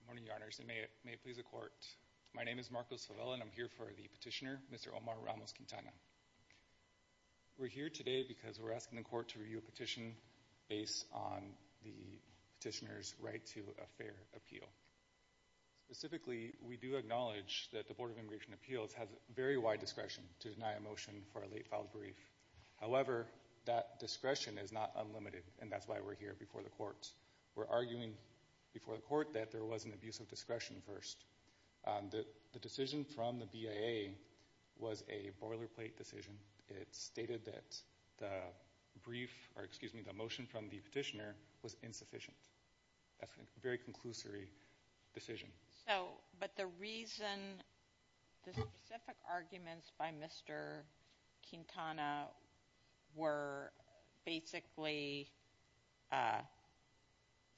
Good morning, Your Honors, and may it please the Court. My name is Marcos Favela and I'm here for the petitioner, Mr. Omar Ramos-Quintana. We're here today because we're asking the Court to review a petition based on the petitioner's right to a fair appeal. Specifically, we do acknowledge that the Board of Immigration Appeals has very wide discretion to deny a motion for a late-filed brief. However, that discretion is not unlimited, and that's why we're here before the Court. We're arguing before the Court that there was an abuse of discretion first. The decision from the BIA was a boilerplate decision. It stated that the brief, or excuse me, the motion from the petitioner was insufficient. That's a very conclusory decision. So, but the reason, the specific arguments by Mr. Quintana were basically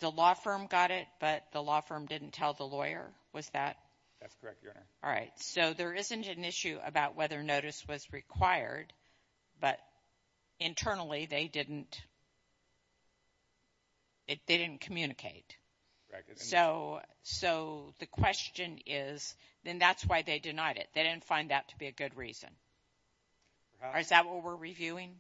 the law firm got it, but the law firm didn't tell the lawyer, was that? That's correct, Your Honor. All right. So, there isn't an issue about whether notice was required, but internally they didn't communicate. So the question is, then that's why they denied it. They didn't find that to be a good reason. Is that what we're reviewing?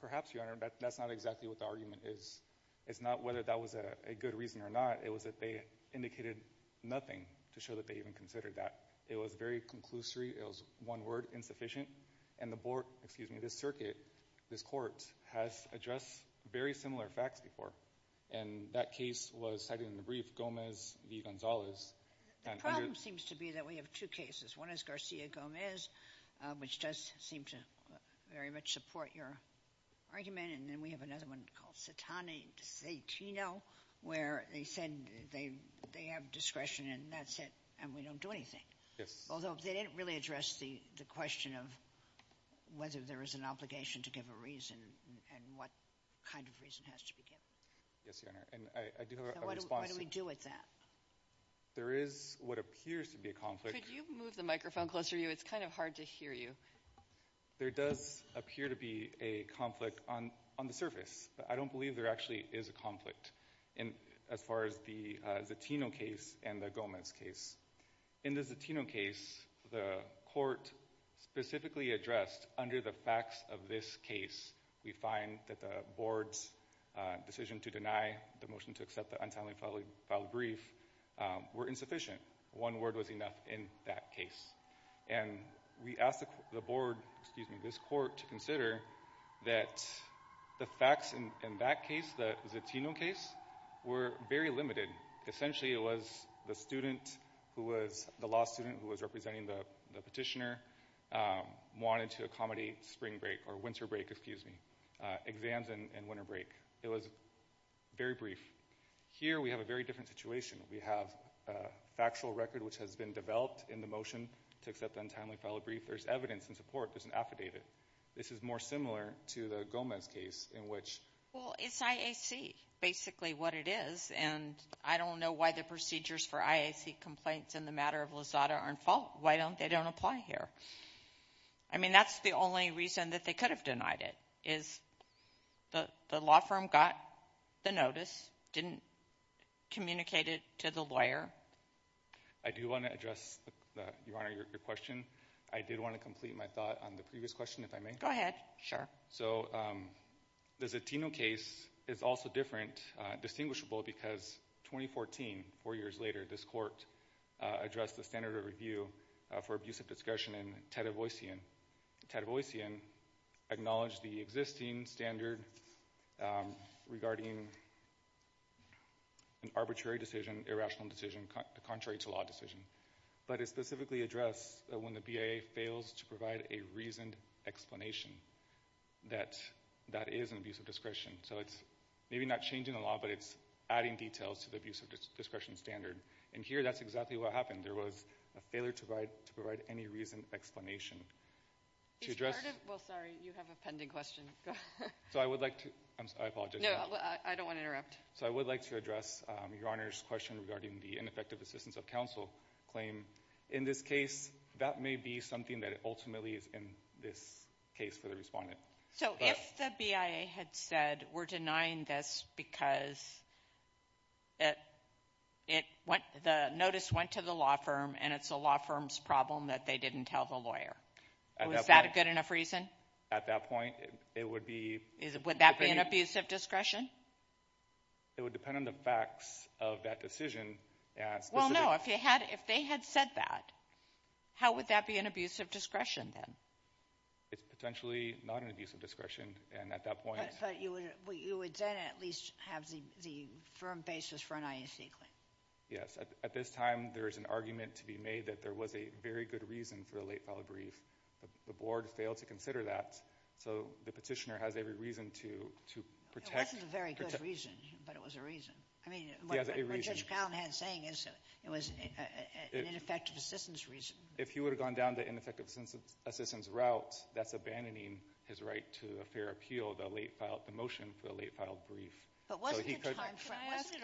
Perhaps, Your Honor, but that's not exactly what the argument is. It's not whether that was a good reason or not. It was that they indicated nothing to show that they even considered that. It was very conclusory. It was one word, insufficient. And the Board of, excuse me, this circuit, this court, has addressed very similar facts before. And that case was cited in the brief, Gomez v. Gonzalez. The problem seems to be that we have two cases. One is Garcia-Gomez, which does seem to very much support your argument. And then we have another one called Citani v. Zatino, where they said they have discretion and that's it, and we don't do anything. Yes. So they didn't really address the question of whether there is an obligation to give a reason and what kind of reason has to be given. Yes, Your Honor, and I do have a response. So what do we do with that? There is what appears to be a conflict. Could you move the microphone closer to you? It's kind of hard to hear you. There does appear to be a conflict on the surface, but I don't believe there actually is a conflict as far as the Zatino case and the Gomez case. In the Zatino case, the court specifically addressed under the facts of this case, we find that the board's decision to deny the motion to accept the untimely filed brief were insufficient. One word was enough in that case. And we asked the board, excuse me, this court to consider that the facts in that case, the Zatino case, were very limited. Essentially, it was the student who was, the law student who was representing the petitioner, wanted to accommodate spring break, or winter break, excuse me, exams and winter break. It was very brief. Here we have a very different situation. We have a factual record which has been developed in the motion to accept the untimely filed brief. There's evidence in support. There's an affidavit. This is more similar to the Gomez case, in which... Well, it's IAC, basically what it is, and I don't know why the procedures for IAC complaints in the matter of Lozada are in fault. Why don't they don't apply here? I mean, that's the only reason that they could have denied it, is the law firm got the notice, and didn't communicate it to the lawyer. I do want to address, Your Honor, your question. I did want to complete my thought on the previous question, if I may. Go ahead. Sure. So, the Zatino case is also different, distinguishable, because 2014, four years later, this court addressed the standard of review for abusive discretion in Ted Avoycian. Ted Avoycian acknowledged the existing standard regarding an arbitrary decision, irrational decision, contrary to law decision. But it specifically addressed that when the BIA fails to provide a reasoned explanation that that is an abusive discretion. So it's maybe not changing the law, but it's adding details to the abusive discretion standard. And here, that's exactly what happened. There was a failure to provide any reasoned explanation. Well, sorry, you have a pending question. So I would like to, I apologize. No, I don't want to interrupt. So I would like to address Your Honor's question regarding the ineffective assistance of counsel claim. In this case, that may be something that ultimately is in this case for the respondent. So if the BIA had said, we're denying this because the notice went to the law firm and it's the law firm's problem that they didn't tell the lawyer, was that a good enough reason? At that point, it would be... Would that be an abusive discretion? It would depend on the facts of that decision. Well, no, if they had said that, how would that be an abusive discretion then? It's potentially not an abusive discretion. And at that point... But you would then at least have the firm basis for an IAC claim. Yes. At this time, there is an argument to be made that there was a very good reason for a late file brief. The board failed to consider that. So the petitioner has every reason to protect... It wasn't a very good reason, but it was a reason. I mean... He has a reason. What Judge Callahan is saying is it was an ineffective assistance reason. If he would have gone down the ineffective assistance route, that's abandoning his right to a fair appeal, the motion for a late filed brief. But wasn't it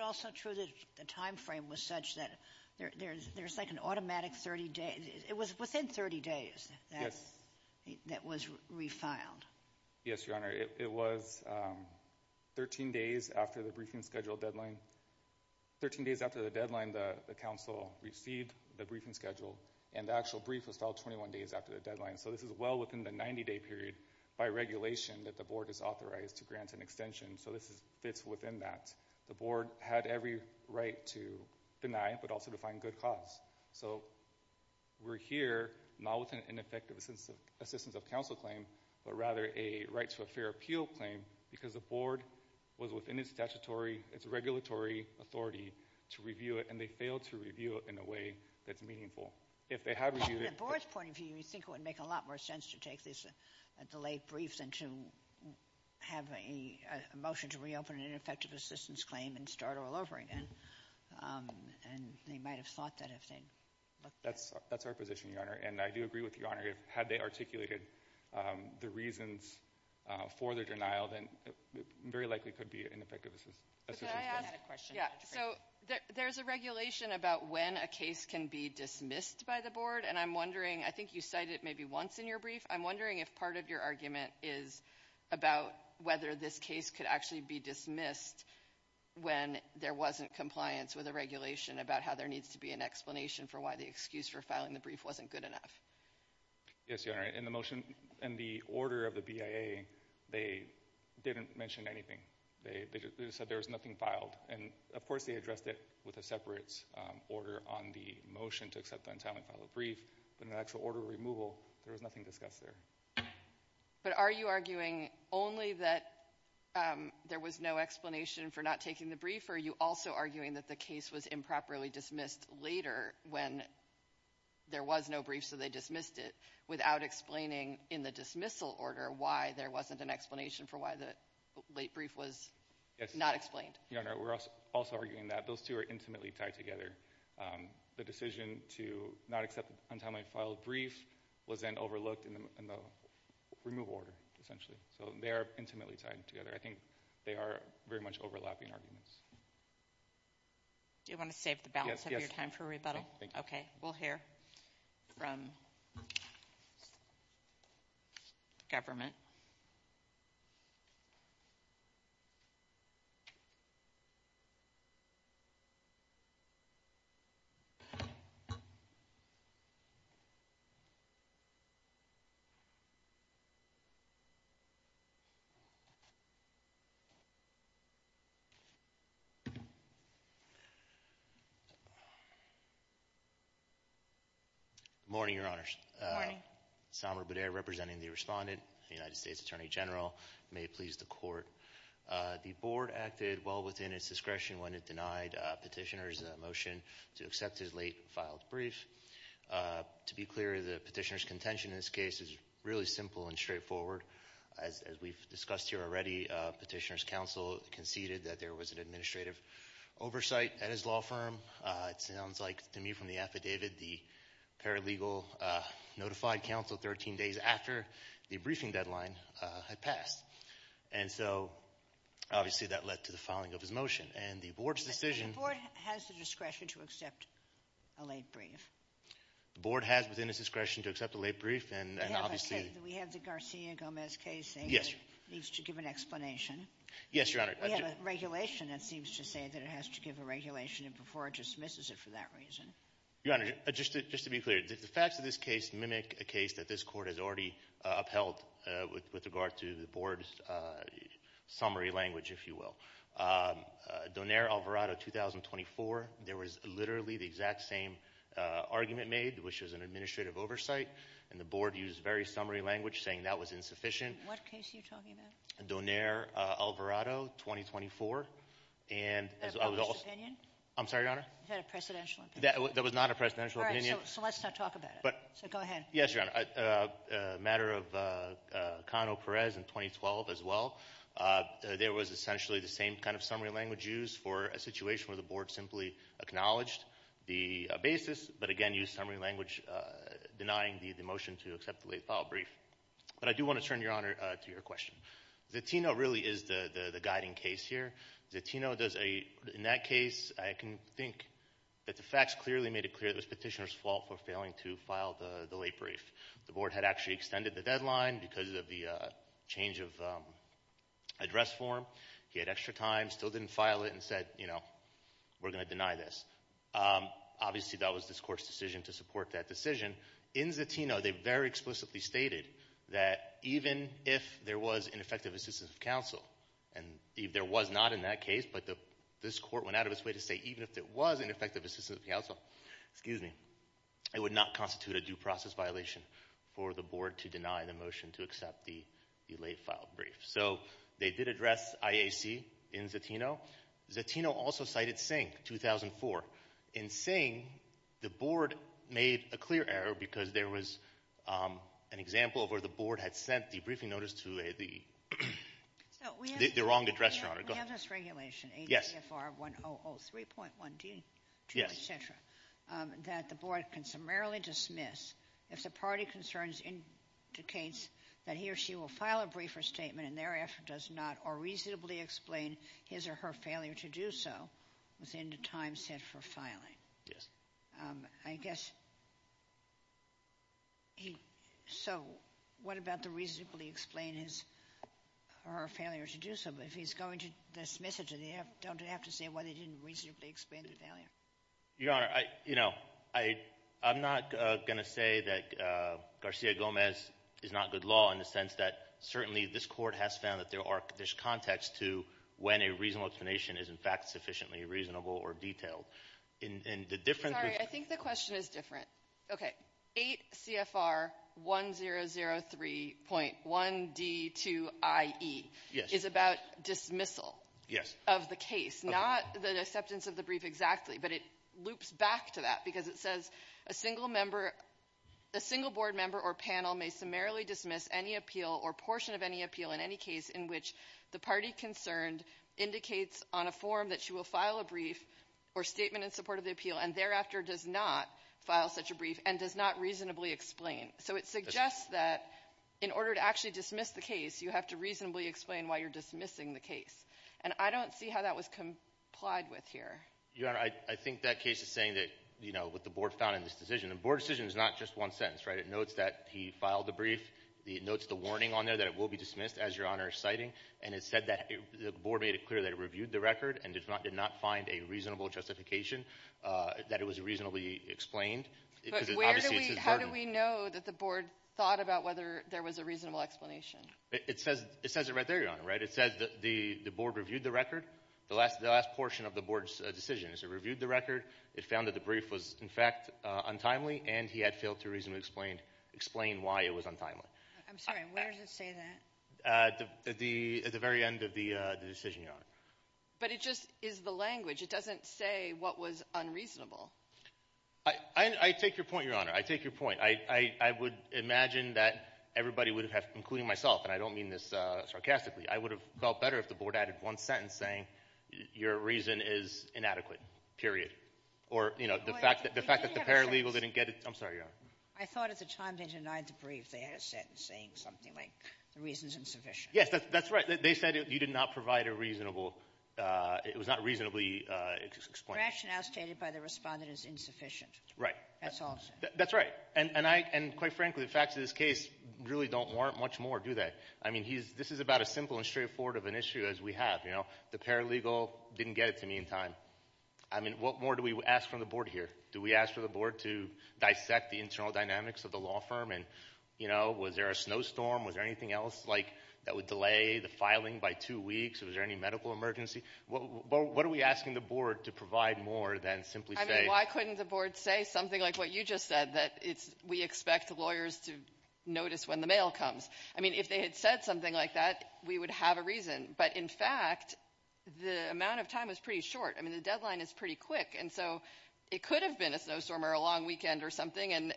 also true that the time frame was such that there's like an automatic 30 days... It was within 30 days that was refiled. Yes, Your Honor. It was 13 days after the briefing schedule deadline. 13 days after the deadline, the counsel received the briefing schedule, and the actual brief was filed 21 days after the deadline. So this is well within the 90-day period by regulation that the board is authorized to grant an extension. So this fits within that. The board had every right to deny, but also to find good cause. So we're here not with an ineffective assistance of counsel claim, but rather a right to a statutory authority to review it, and they failed to review it in a way that's meaningful. If they had reviewed it... From the board's point of view, you would think it would make a lot more sense to take this delayed brief than to have a motion to reopen an ineffective assistance claim and start all over again. And they might have thought that if they'd looked at it. That's our position, Your Honor. And I do agree with Your Honor. Had they articulated the reasons for their denial, then it very likely could be an ineffective assistance claim. So there's a regulation about when a case can be dismissed by the board, and I'm wondering, I think you cited it maybe once in your brief, I'm wondering if part of your argument is about whether this case could actually be dismissed when there wasn't compliance with a regulation about how there needs to be an explanation for why the excuse for filing the brief wasn't good enough. Yes, Your Honor. In the motion, in the order of the BIA, they didn't mention anything. They just said there was nothing filed, and of course they addressed it with a separate order on the motion to accept the untimely file of the brief, but in the actual order of removal, there was nothing discussed there. But are you arguing only that there was no explanation for not taking the brief, or are you also arguing that the case was improperly dismissed later when there was no brief so they dismissed it without explaining in the dismissal order why there wasn't an explanation for why the late brief was not explained? Your Honor, we're also arguing that those two are intimately tied together. The decision to not accept the untimely filed brief was then overlooked in the removal order, essentially. So they are intimately tied together. I think they are very much overlapping arguments. Do you want to save the balance of your time for rebuttal? Thank you. Okay. We'll hear from the government. Good morning, Your Honors. Good morning. Samer Bader representing the respondent, the United States Attorney General. May it please the Court. The Board acted well within its discretion when it denied Petitioner's motion to accept his late filed brief. To be clear, the Petitioner's contention in this case is really simple and straightforward. As we've discussed here already, Petitioner's counsel conceded that there was an administrative oversight at his law firm. It sounds like, to me, from the affidavit, the paralegal notified counsel 13 days after the briefing deadline had passed. And so, obviously, that led to the filing of his motion. And the Board's decision— But the Board has the discretion to accept a late brief. The Board has within its discretion to accept a late brief, and obviously— We have the Garcia-Gomez case, and it needs to give an explanation. Yes, Your Honor. We have a regulation that seems to say that it has to give a regulation before it dismisses it for that reason. Your Honor, just to be clear, the facts of this case mimic a case that this Court has already upheld with regard to the Board's summary language, if you will. Donair-Alvarado, 2024, there was literally the exact same argument made, which was an administrative oversight, and the Board used very summary language saying that was insufficient. What case are you talking about? Donair-Alvarado, 2024, and— Is that a published opinion? I'm sorry, Your Honor? Is that a presidential opinion? That was not a presidential opinion. All right. So let's not talk about it. But— So go ahead. Yes, Your Honor. A matter of Cano-Perez in 2012 as well, there was essentially the same kind of summary language used for a situation where the Board simply acknowledged the basis, but again used summary language denying the motion to accept the late file brief. But I do want to turn, Your Honor, to your question. Zatino really is the guiding case here. Zatino does a—in that case, I can think that the facts clearly made it clear that it was Petitioner's fault for failing to file the late brief. The Board had actually extended the deadline because of the change of address form. He had extra time, still didn't file it, and said, you know, we're going to deny this. Obviously that was this Court's decision to support that decision. In Zatino, they very explicitly stated that even if there was ineffective assistance of counsel, and there was not in that case, but this Court went out of its way to say even if there was ineffective assistance of counsel, excuse me, it would not constitute a due process violation for the Board to deny the motion to accept the late file brief. So they did address IAC in Zatino. Zatino also cited Singh, 2004. In Singh, the Board made a clear error because there was an example of where the Board had sent the briefing notice to the—the wrong address, Your Honor. Go ahead. We have this regulation, ACFR 1003.1d2, et cetera, that the Board can summarily dismiss if the party concerns indicates that he or she will file a briefer statement and thereafter does not, or reasonably explain his or her failure to do so within the time set for filing. Yes. I guess he—so what about the reasonably explain his or her failure to do so? But if he's going to dismiss it, don't they have to say why they didn't reasonably explain their failure? Your Honor, you know, I'm not going to say that Garcia-Gomez is not good law in the sense that certainly this Court has found that there are—there's context to when a reasonable explanation is, in fact, sufficiently reasonable or detailed. In the different— I'm sorry. I think the question is different. Okay. ACFR 1003.1d2iE is about dismissal of the case, not the acceptance of the brief exactly, but it loops back to that because it says a single member—a single Board member or panel may summarily dismiss any appeal or portion of any appeal in any case in which the party concerned indicates on a form that she will file a brief or statement in support of the appeal and thereafter does not file such a brief and does not reasonably explain. So it suggests that in order to actually dismiss the case, you have to reasonably explain why you're dismissing the case. And I don't see how that was complied with here. Your Honor, I think that case is saying that, you know, with the Board founding this decision, the Board decision is not just one sentence, right? It notes that he filed the brief. It notes the warning on there that it will be dismissed, as Your Honor is citing. And it said that—the Board made it clear that it reviewed the record and did not find a reasonable justification that it was reasonably explained because, obviously, it's his burden. But where do we—how do we know that the Board thought about whether there was a reasonable explanation? It says—it says it right there, Your Honor, right? It says that the Board reviewed the record. The last portion of the Board's decision is it reviewed the record, it found that the brief was, in fact, untimely, and he had failed to reasonably explain—explain why it was untimely. I'm sorry. Where does it say that? At the—at the very end of the decision, Your Honor. But it just is the language. It doesn't say what was unreasonable. I take your point, Your Honor. I take your point. I would imagine that everybody would have—including myself, and I don't mean this sarcastically. I would have felt better if the Board added one sentence saying, your reason is inadequate, period. Or, you know, the fact that—the fact that the paralegal didn't get it—I'm sorry, Your Honor. I thought at the time they denied the brief, they had a sentence saying something like, the reason's insufficient. Yes, that's right. They said you did not provide a reasonable—it was not reasonably explained. Rationale stated by the Respondent is insufficient. Right. That's all I'm saying. That's right. And I—and quite frankly, the facts of this case really don't warrant much more, do they? I mean, he's—this is about as simple and straightforward of an issue as we have, you The paralegal didn't get it to me in time. I mean, what more do we ask from the Board here? Do we ask for the Board to dissect the internal dynamics of the law firm and, you know, was there a snowstorm? Was there anything else, like, that would delay the filing by two weeks? Was there any medical emergency? What are we asking the Board to provide more than simply say— I mean, why couldn't the Board say something like what you just said, that it's—we expect the lawyers to notice when the mail comes? I mean, if they had said something like that, we would have a reason. But in fact, the amount of time is pretty short. I mean, the deadline is pretty quick, and so it could have been a snowstorm or a long weekend or something, and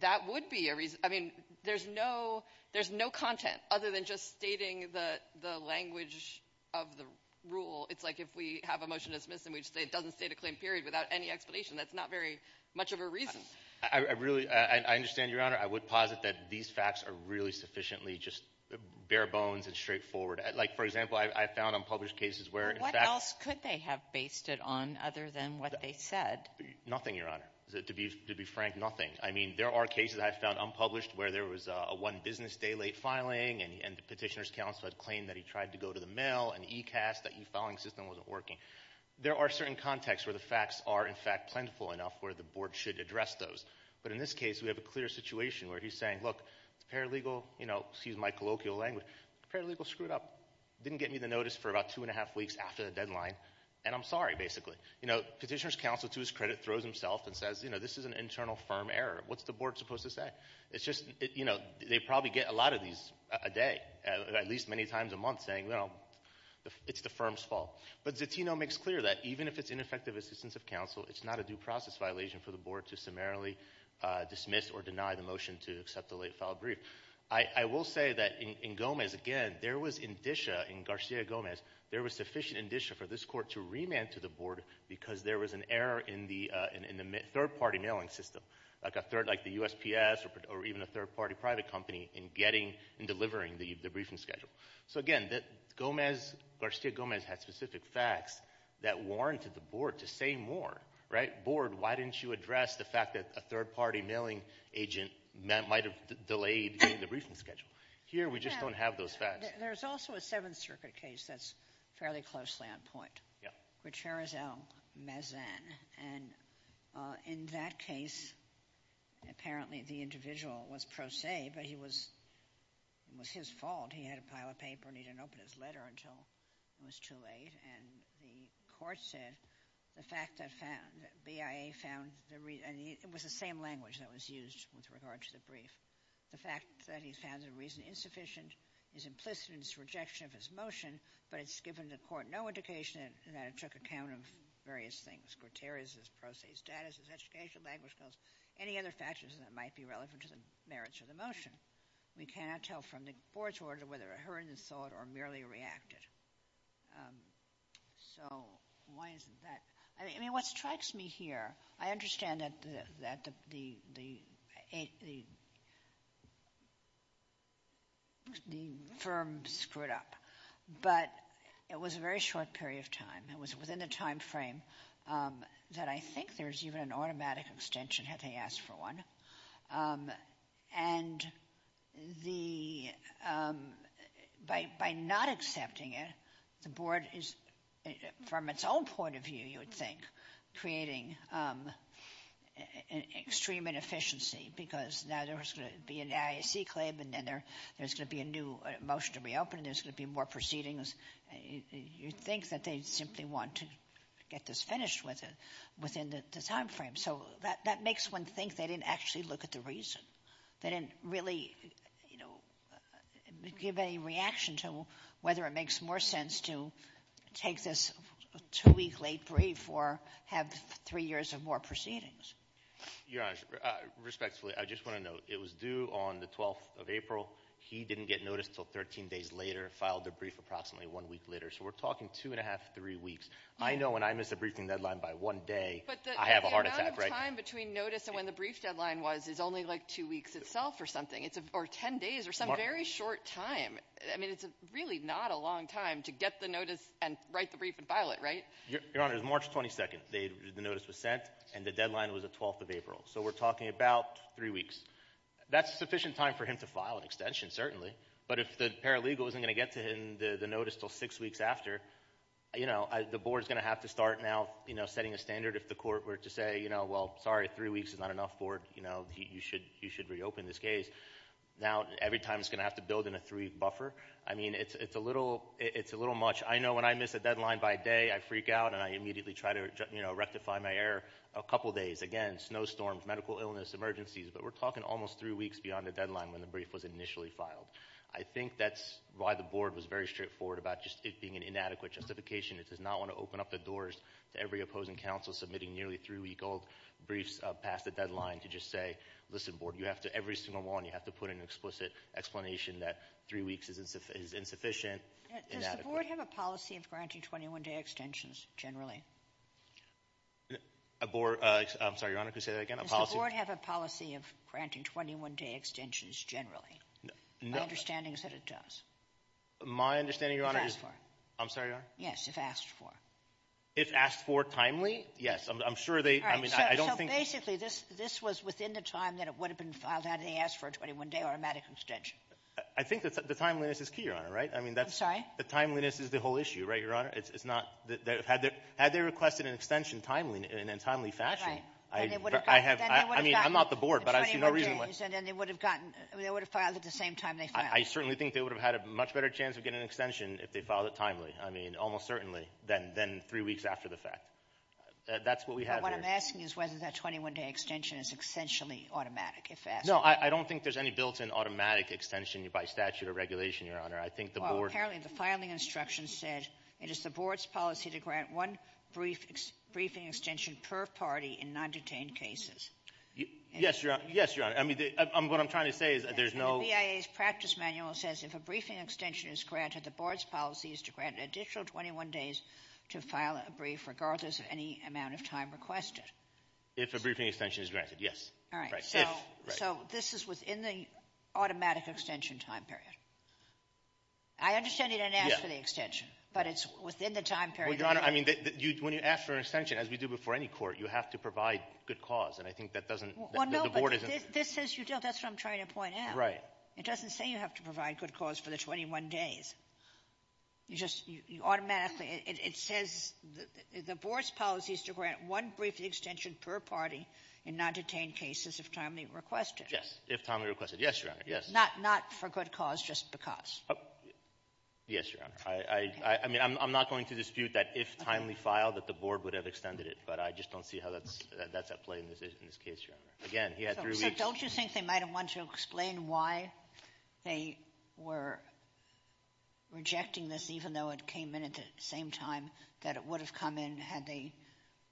that would be a reason—I mean, there's no—there's no content other than just stating the language of the rule. It's like if we have a motion to dismiss and we just say it doesn't state a claim period without any explanation. That's not very much of a reason. I really—I understand, Your Honor. I would posit that these facts are really sufficiently just bare bones and straightforward. Like for example, I found unpublished cases where, in fact— What else could they have based it on other than what they said? Nothing, Your Honor. To be frank, nothing. I mean, there are cases I've found unpublished where there was a one-business-day-late filing and the Petitioner's Counsel had claimed that he tried to go to the mail and e-cast, that e-filing system wasn't working. There are certain contexts where the facts are, in fact, plentiful enough where the Board should address those. But in this case, we have a clear situation where he's saying, look, it's paralegal—you know, excuse my colloquial language—it's paralegal screwed up, didn't get me the time, and I'm sorry, basically. You know, Petitioner's Counsel, to his credit, throws himself and says, you know, this is an internal firm error. What's the Board supposed to say? It's just, you know, they probably get a lot of these a day, at least many times a month, saying, you know, it's the firm's fault. But Zatino makes clear that even if it's ineffective assistance of counsel, it's not a due process violation for the Board to summarily dismiss or deny the motion to accept the late-filed brief. I will say that in Gomez, again, there was indicia in Garcia-Gomez, there was sufficient indicia for this Court to remand to the Board because there was an error in the third-party mailing system, like the USPS or even a third-party private company, in getting and delivering the briefing schedule. So, again, Gomez, Garcia-Gomez, had specific facts that warranted the Board to say more, right? Board, why didn't you address the fact that a third-party mailing agent might have delayed getting the briefing schedule? Here, we just don't have those facts. There's also a Seventh Circuit case that's fairly closely on point, Gutierrez L. Mazan. And in that case, apparently, the individual was pro se, but it was his fault. He had a pile of paper, and he didn't open his letter until it was too late, and the Court said the fact that BIA found the reason—and it was the same language that was used with regard to the brief. The fact that he found the reason insufficient is implicit in his rejection of his motion, but it's given the Court no indication that it took account of various things—Gutierrez's pro se status, his educational language skills, any other factors that might be relevant to the merits of the motion. We cannot tell from the Board's order whether a heuristic thought or merely a reacted. So why isn't that—I mean, what strikes me here, I understand that the—I mean, the firm screwed up, but it was a very short period of time. It was within the timeframe that I think there's even an automatic extension had they asked for one, and the—by not accepting it, the Board is, from its own point of view, you think, creating extreme inefficiency, because now there's going to be an IAC claim, and then there's going to be a new motion to reopen, and there's going to be more proceedings. You'd think that they'd simply want to get this finished within the timeframe. So that makes one think they didn't actually look at the reason. They didn't really, you know, give any reaction to whether it makes more sense to take this two-week late brief or have three years of more proceedings. Your Honor, respectfully, I just want to note, it was due on the 12th of April. He didn't get notice until 13 days later, filed the brief approximately one week later. So we're talking two and a half, three weeks. I know when I miss a briefing deadline by one day, I have a heart attack, right? But the amount of time between notice and when the brief deadline was is only like two weeks itself or something, or 10 days, or some very short time. I mean, it's really not a long time to get the notice and write the brief and file it, right? Your Honor, it was March 22nd the notice was sent, and the deadline was the 12th of April. So we're talking about three weeks. That's sufficient time for him to file an extension, certainly. But if the paralegal isn't going to get to him the notice until six weeks after, you know, the board's going to have to start now, you know, setting a standard if the court were to say, you know, well, sorry, three weeks is not enough for, you know, you should reopen this case. Now, every time it's going to have to build in a three-week buffer. I mean, it's a little much. I know when I miss a deadline by day, I freak out, and I immediately try to, you know, rectify my error a couple days. Again, snowstorms, medical illness, emergencies. But we're talking almost three weeks beyond the deadline when the brief was initially filed. I think that's why the board was very straightforward about just it being an inadequate justification. It does not want to open up the doors to every opposing counsel submitting nearly three-week-old briefs past the deadline to just say, listen, board, you have to, you have to put an explicit explanation that three weeks is insufficient. Does the board have a policy of granting 21-day extensions generally? A board, I'm sorry, Your Honor, can you say that again? Does the board have a policy of granting 21-day extensions generally? My understanding is that it does. My understanding, Your Honor, is... If asked for. I'm sorry, Your Honor? Yes, if asked for. If asked for timely? Yes, I'm sure they, I mean, I don't think... This was within the time that it would have been filed had they asked for a 21-day automatic extension. I think that the timeliness is key, Your Honor, right? I mean, that's... The timeliness is the whole issue, right, Your Honor? It's not... Had they requested an extension timely, in a timely fashion, I have... Then they would have gotten... I mean, I'm not the board, but I see no reason why... The 21 days, and then they would have gotten, they would have filed at the same time they I certainly think they would have had a much better chance of getting an extension if they filed it timely. I mean, almost certainly, than three weeks after the fact. That's what we have here. But what I'm asking is whether that 21-day extension is essentially automatic, if asked. No, I don't think there's any built-in automatic extension by statute or regulation, Your Honor. I think the board... Well, apparently the filing instructions said, it is the board's policy to grant one brief, briefing extension per party in non-detained cases. Yes, Your Honor. Yes, Your Honor. I mean, what I'm trying to say is there's no... The BIA's practice manual says if a briefing extension is granted, the board's policy is to grant an additional 21 days to file a brief, regardless of any amount of time requested. If a briefing extension is granted, yes. All right, so this is within the automatic extension time period. I understand you didn't ask for the extension, but it's within the time period... Well, Your Honor, I mean, when you ask for an extension, as we do before any court, you have to provide good cause. And I think that doesn't... Well, no, but this says you don't. That's what I'm trying to point out. Right. It doesn't say you have to provide good cause for the 21 days. You just automatically... It says the board's policy is to grant one briefing extension per party in non-detained cases if timely requested. Yes, if timely requested. Yes, Your Honor. Yes. Not for good cause, just because. Yes, Your Honor. I mean, I'm not going to dispute that if timely filed that the board would have extended it, but I just don't see how that's at play in this case, Your Honor. Again, he had three weeks... Rejecting this, even though it came in at the same time that it would have come in had they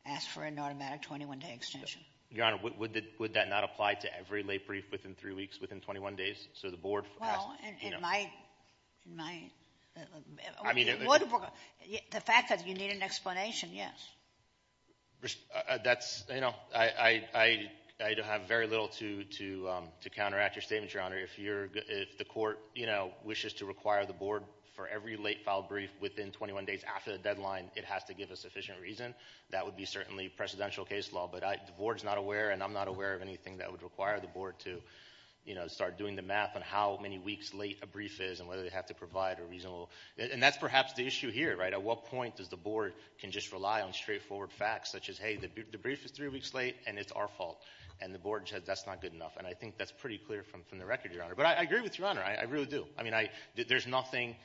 asked for an automatic 21-day extension. Your Honor, would that not apply to every lay brief within three weeks, within 21 days? So the board... Well, it might. The fact that you need an explanation, yes. That's, you know, I have very little to counteract your statement, Your Honor. If the court, you know, wishes to require the board for every late filed brief within 21 days after the deadline, it has to give a sufficient reason. That would be certainly presidential case law. But the board's not aware, and I'm not aware of anything that would require the board to, you know, start doing the math on how many weeks late a brief is and whether they have to provide a reasonable... And that's perhaps the issue here, right? At what point does the board can just rely on straightforward facts such as, hey, the brief is three weeks late, and it's our fault. And the board says that's not good enough. And I think that's pretty clear from the record, Your Honor. But I agree with Your Honor, I really do. I mean, there's nothing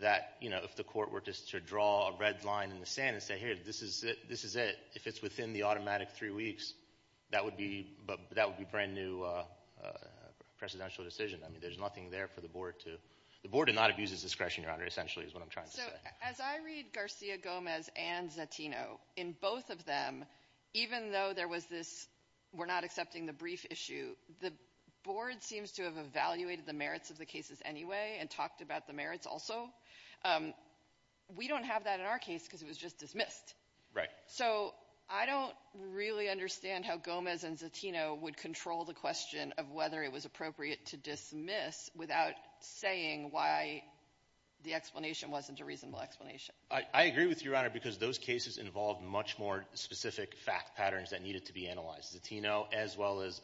that, you know, if the court were just to draw a red line in the sand and say, hey, this is it, this is it. If it's within the automatic three weeks, that would be brand new presidential decision. I mean, there's nothing there for the board to... The board did not abuse its discretion, Your Honor, essentially is what I'm trying to say. As I read Garcia-Gomez and Zatino, in both of them, even though there was this, we're not accepting the brief issue, the board seems to have evaluated the merits of the cases anyway and talked about the merits also. We don't have that in our case because it was just dismissed. Right. So I don't really understand how Gomez and Zatino would control the question of whether it was appropriate to dismiss without saying why the explanation wasn't a reasonable explanation. I agree with you, Your Honor, because those cases involved much more specific fact patterns that needed to be analyzed, Zatino as well as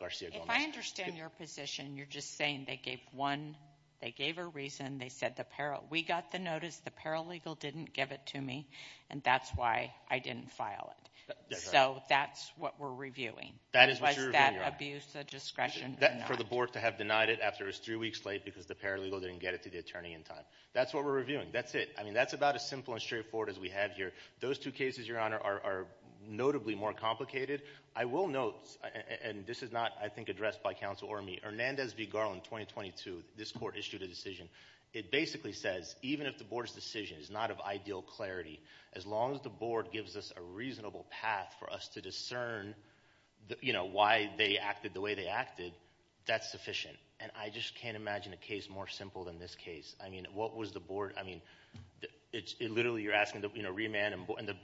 Garcia-Gomez. If I understand your position, you're just saying they gave one, they gave a reason, they said the peril. We got the notice, the paralegal didn't give it to me and that's why I didn't file it. So that's what we're reviewing. That is what you're reviewing, Your Honor. Was that abuse of discretion or not? For the board to have denied it after it was three weeks late because the paralegal didn't get it to the attorney in time. That's what we're reviewing. That's it. I mean, that's about as simple and straightforward as we have here. Those two cases, Your Honor, are notably more complicated. I will note, and this is not, I think, addressed by counsel or me, Hernandez v. Garland, 2022, this court issued a decision. It basically says even if the board's decision is not of ideal clarity, as long as the board gives us a reasonable path for us to discern, you know, why they acted the way they acted, that's sufficient. And I just can't imagine a case more simple than this case. I mean, what was the board? I mean, literally, you're asking to, you know, remand. And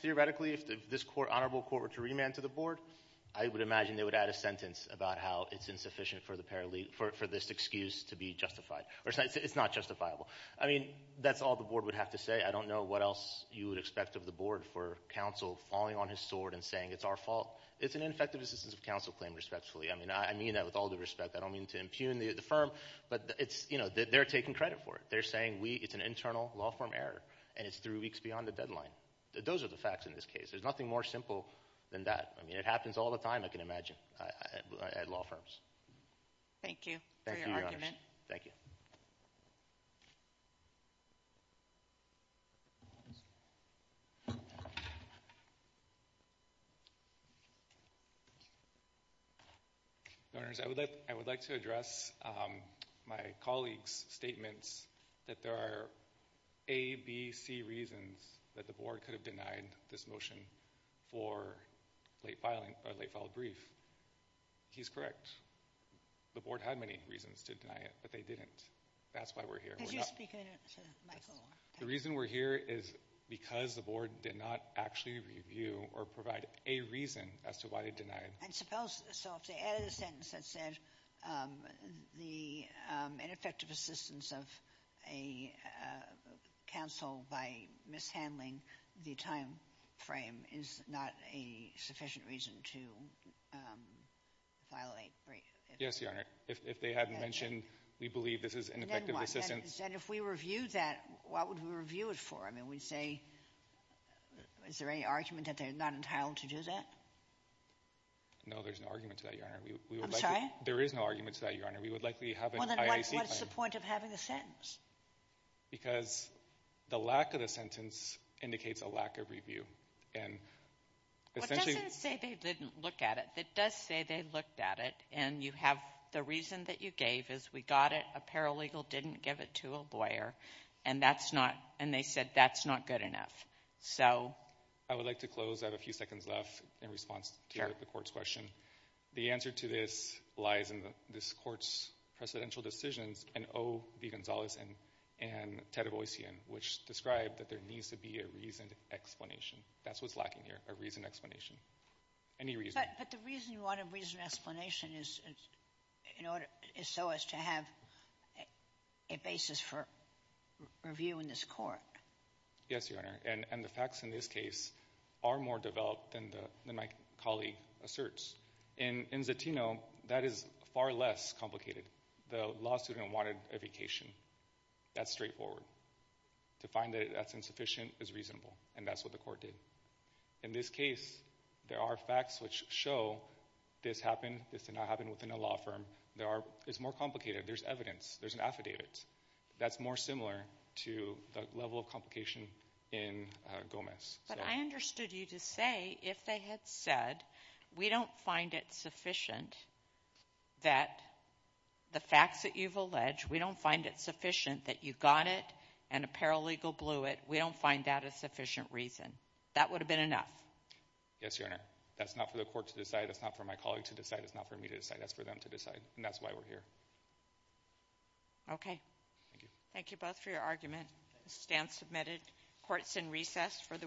theoretically, if this honorable court were to remand to the board, I would imagine they would add a sentence about how it's insufficient for this excuse to be justified. Or it's not justifiable. I mean, that's all the board would have to say. I don't know what else you would expect of the board for counsel falling on his sword and saying it's our fault. It's an ineffective assistance of counsel claim, respectfully. I mean, I mean that with all due respect. I don't mean to impugn the firm. But it's, you know, they're taking credit for it. They're saying we, it's an internal law firm error. And it's three weeks beyond the deadline. Those are the facts in this case. There's nothing more simple than that. I mean, it happens all the time, I can imagine, at law firms. Thank you for your argument. Thank you. Governors, I would like to address my colleague's statements that there are A, B, C reasons that the board could have denied this motion for late filing, or late filed brief. He's correct. The board had many reasons to deny it, but they didn't. That's why we're here. The reason we're here is because the board did not actually review or provide a reason as to why they denied. And suppose, so if they added a sentence that said, the ineffective assistance of a counsel by mishandling the time frame is not a sufficient reason to violate brief. Yes, Your Honor. If they hadn't mentioned, we believe this is ineffective assistance. And if we reviewed that, what would we review it for? I mean, we'd say, is there any argument that they're not entitled to do that? No, there's no argument to that, Your Honor. I'm sorry? There is no argument to that, Your Honor. We would likely have an IAC claim. What's the point of having a sentence? Because the lack of the sentence indicates a lack of review. And essentially... Well, it doesn't say they didn't look at it. It does say they looked at it. And you have the reason that you gave is we got it. A paralegal didn't give it to a lawyer. And that's not, and they said, that's not good enough. So... I would like to close. I have a few seconds left in response to the court's question. The answer to this lies in this court's precedential decisions and O. V. Gonzalez and Ted Avoyzian, which describe that there needs to be a reasoned explanation. That's what's lacking here, a reasoned explanation. Any reason. But the reason you want a reasoned explanation is so as to have a basis for review in this court. Yes, Your Honor. And the facts in this case are more developed than my colleague asserts. In Zatino, that is far less complicated. The law student wanted a vacation. That's straightforward. To find that that's insufficient is reasonable. And that's what the court did. In this case, there are facts which show this happened. This did not happen within a law firm. There are, it's more complicated. There's evidence. There's an affidavit. That's more similar to the level of complication in Gomez. But I understood you to say if they had said, we don't find it sufficient that the facts that you've alleged, we don't find it sufficient that you got it and a paralegal blew it, we don't find that a sufficient reason. That would have been enough. Yes, Your Honor. That's not for the court to decide. That's not for my colleague to decide. It's not for me to decide. That's for them to decide. And that's why we're here. Okay. Thank you both for your argument. Stand submitted. Court's in recess for the week.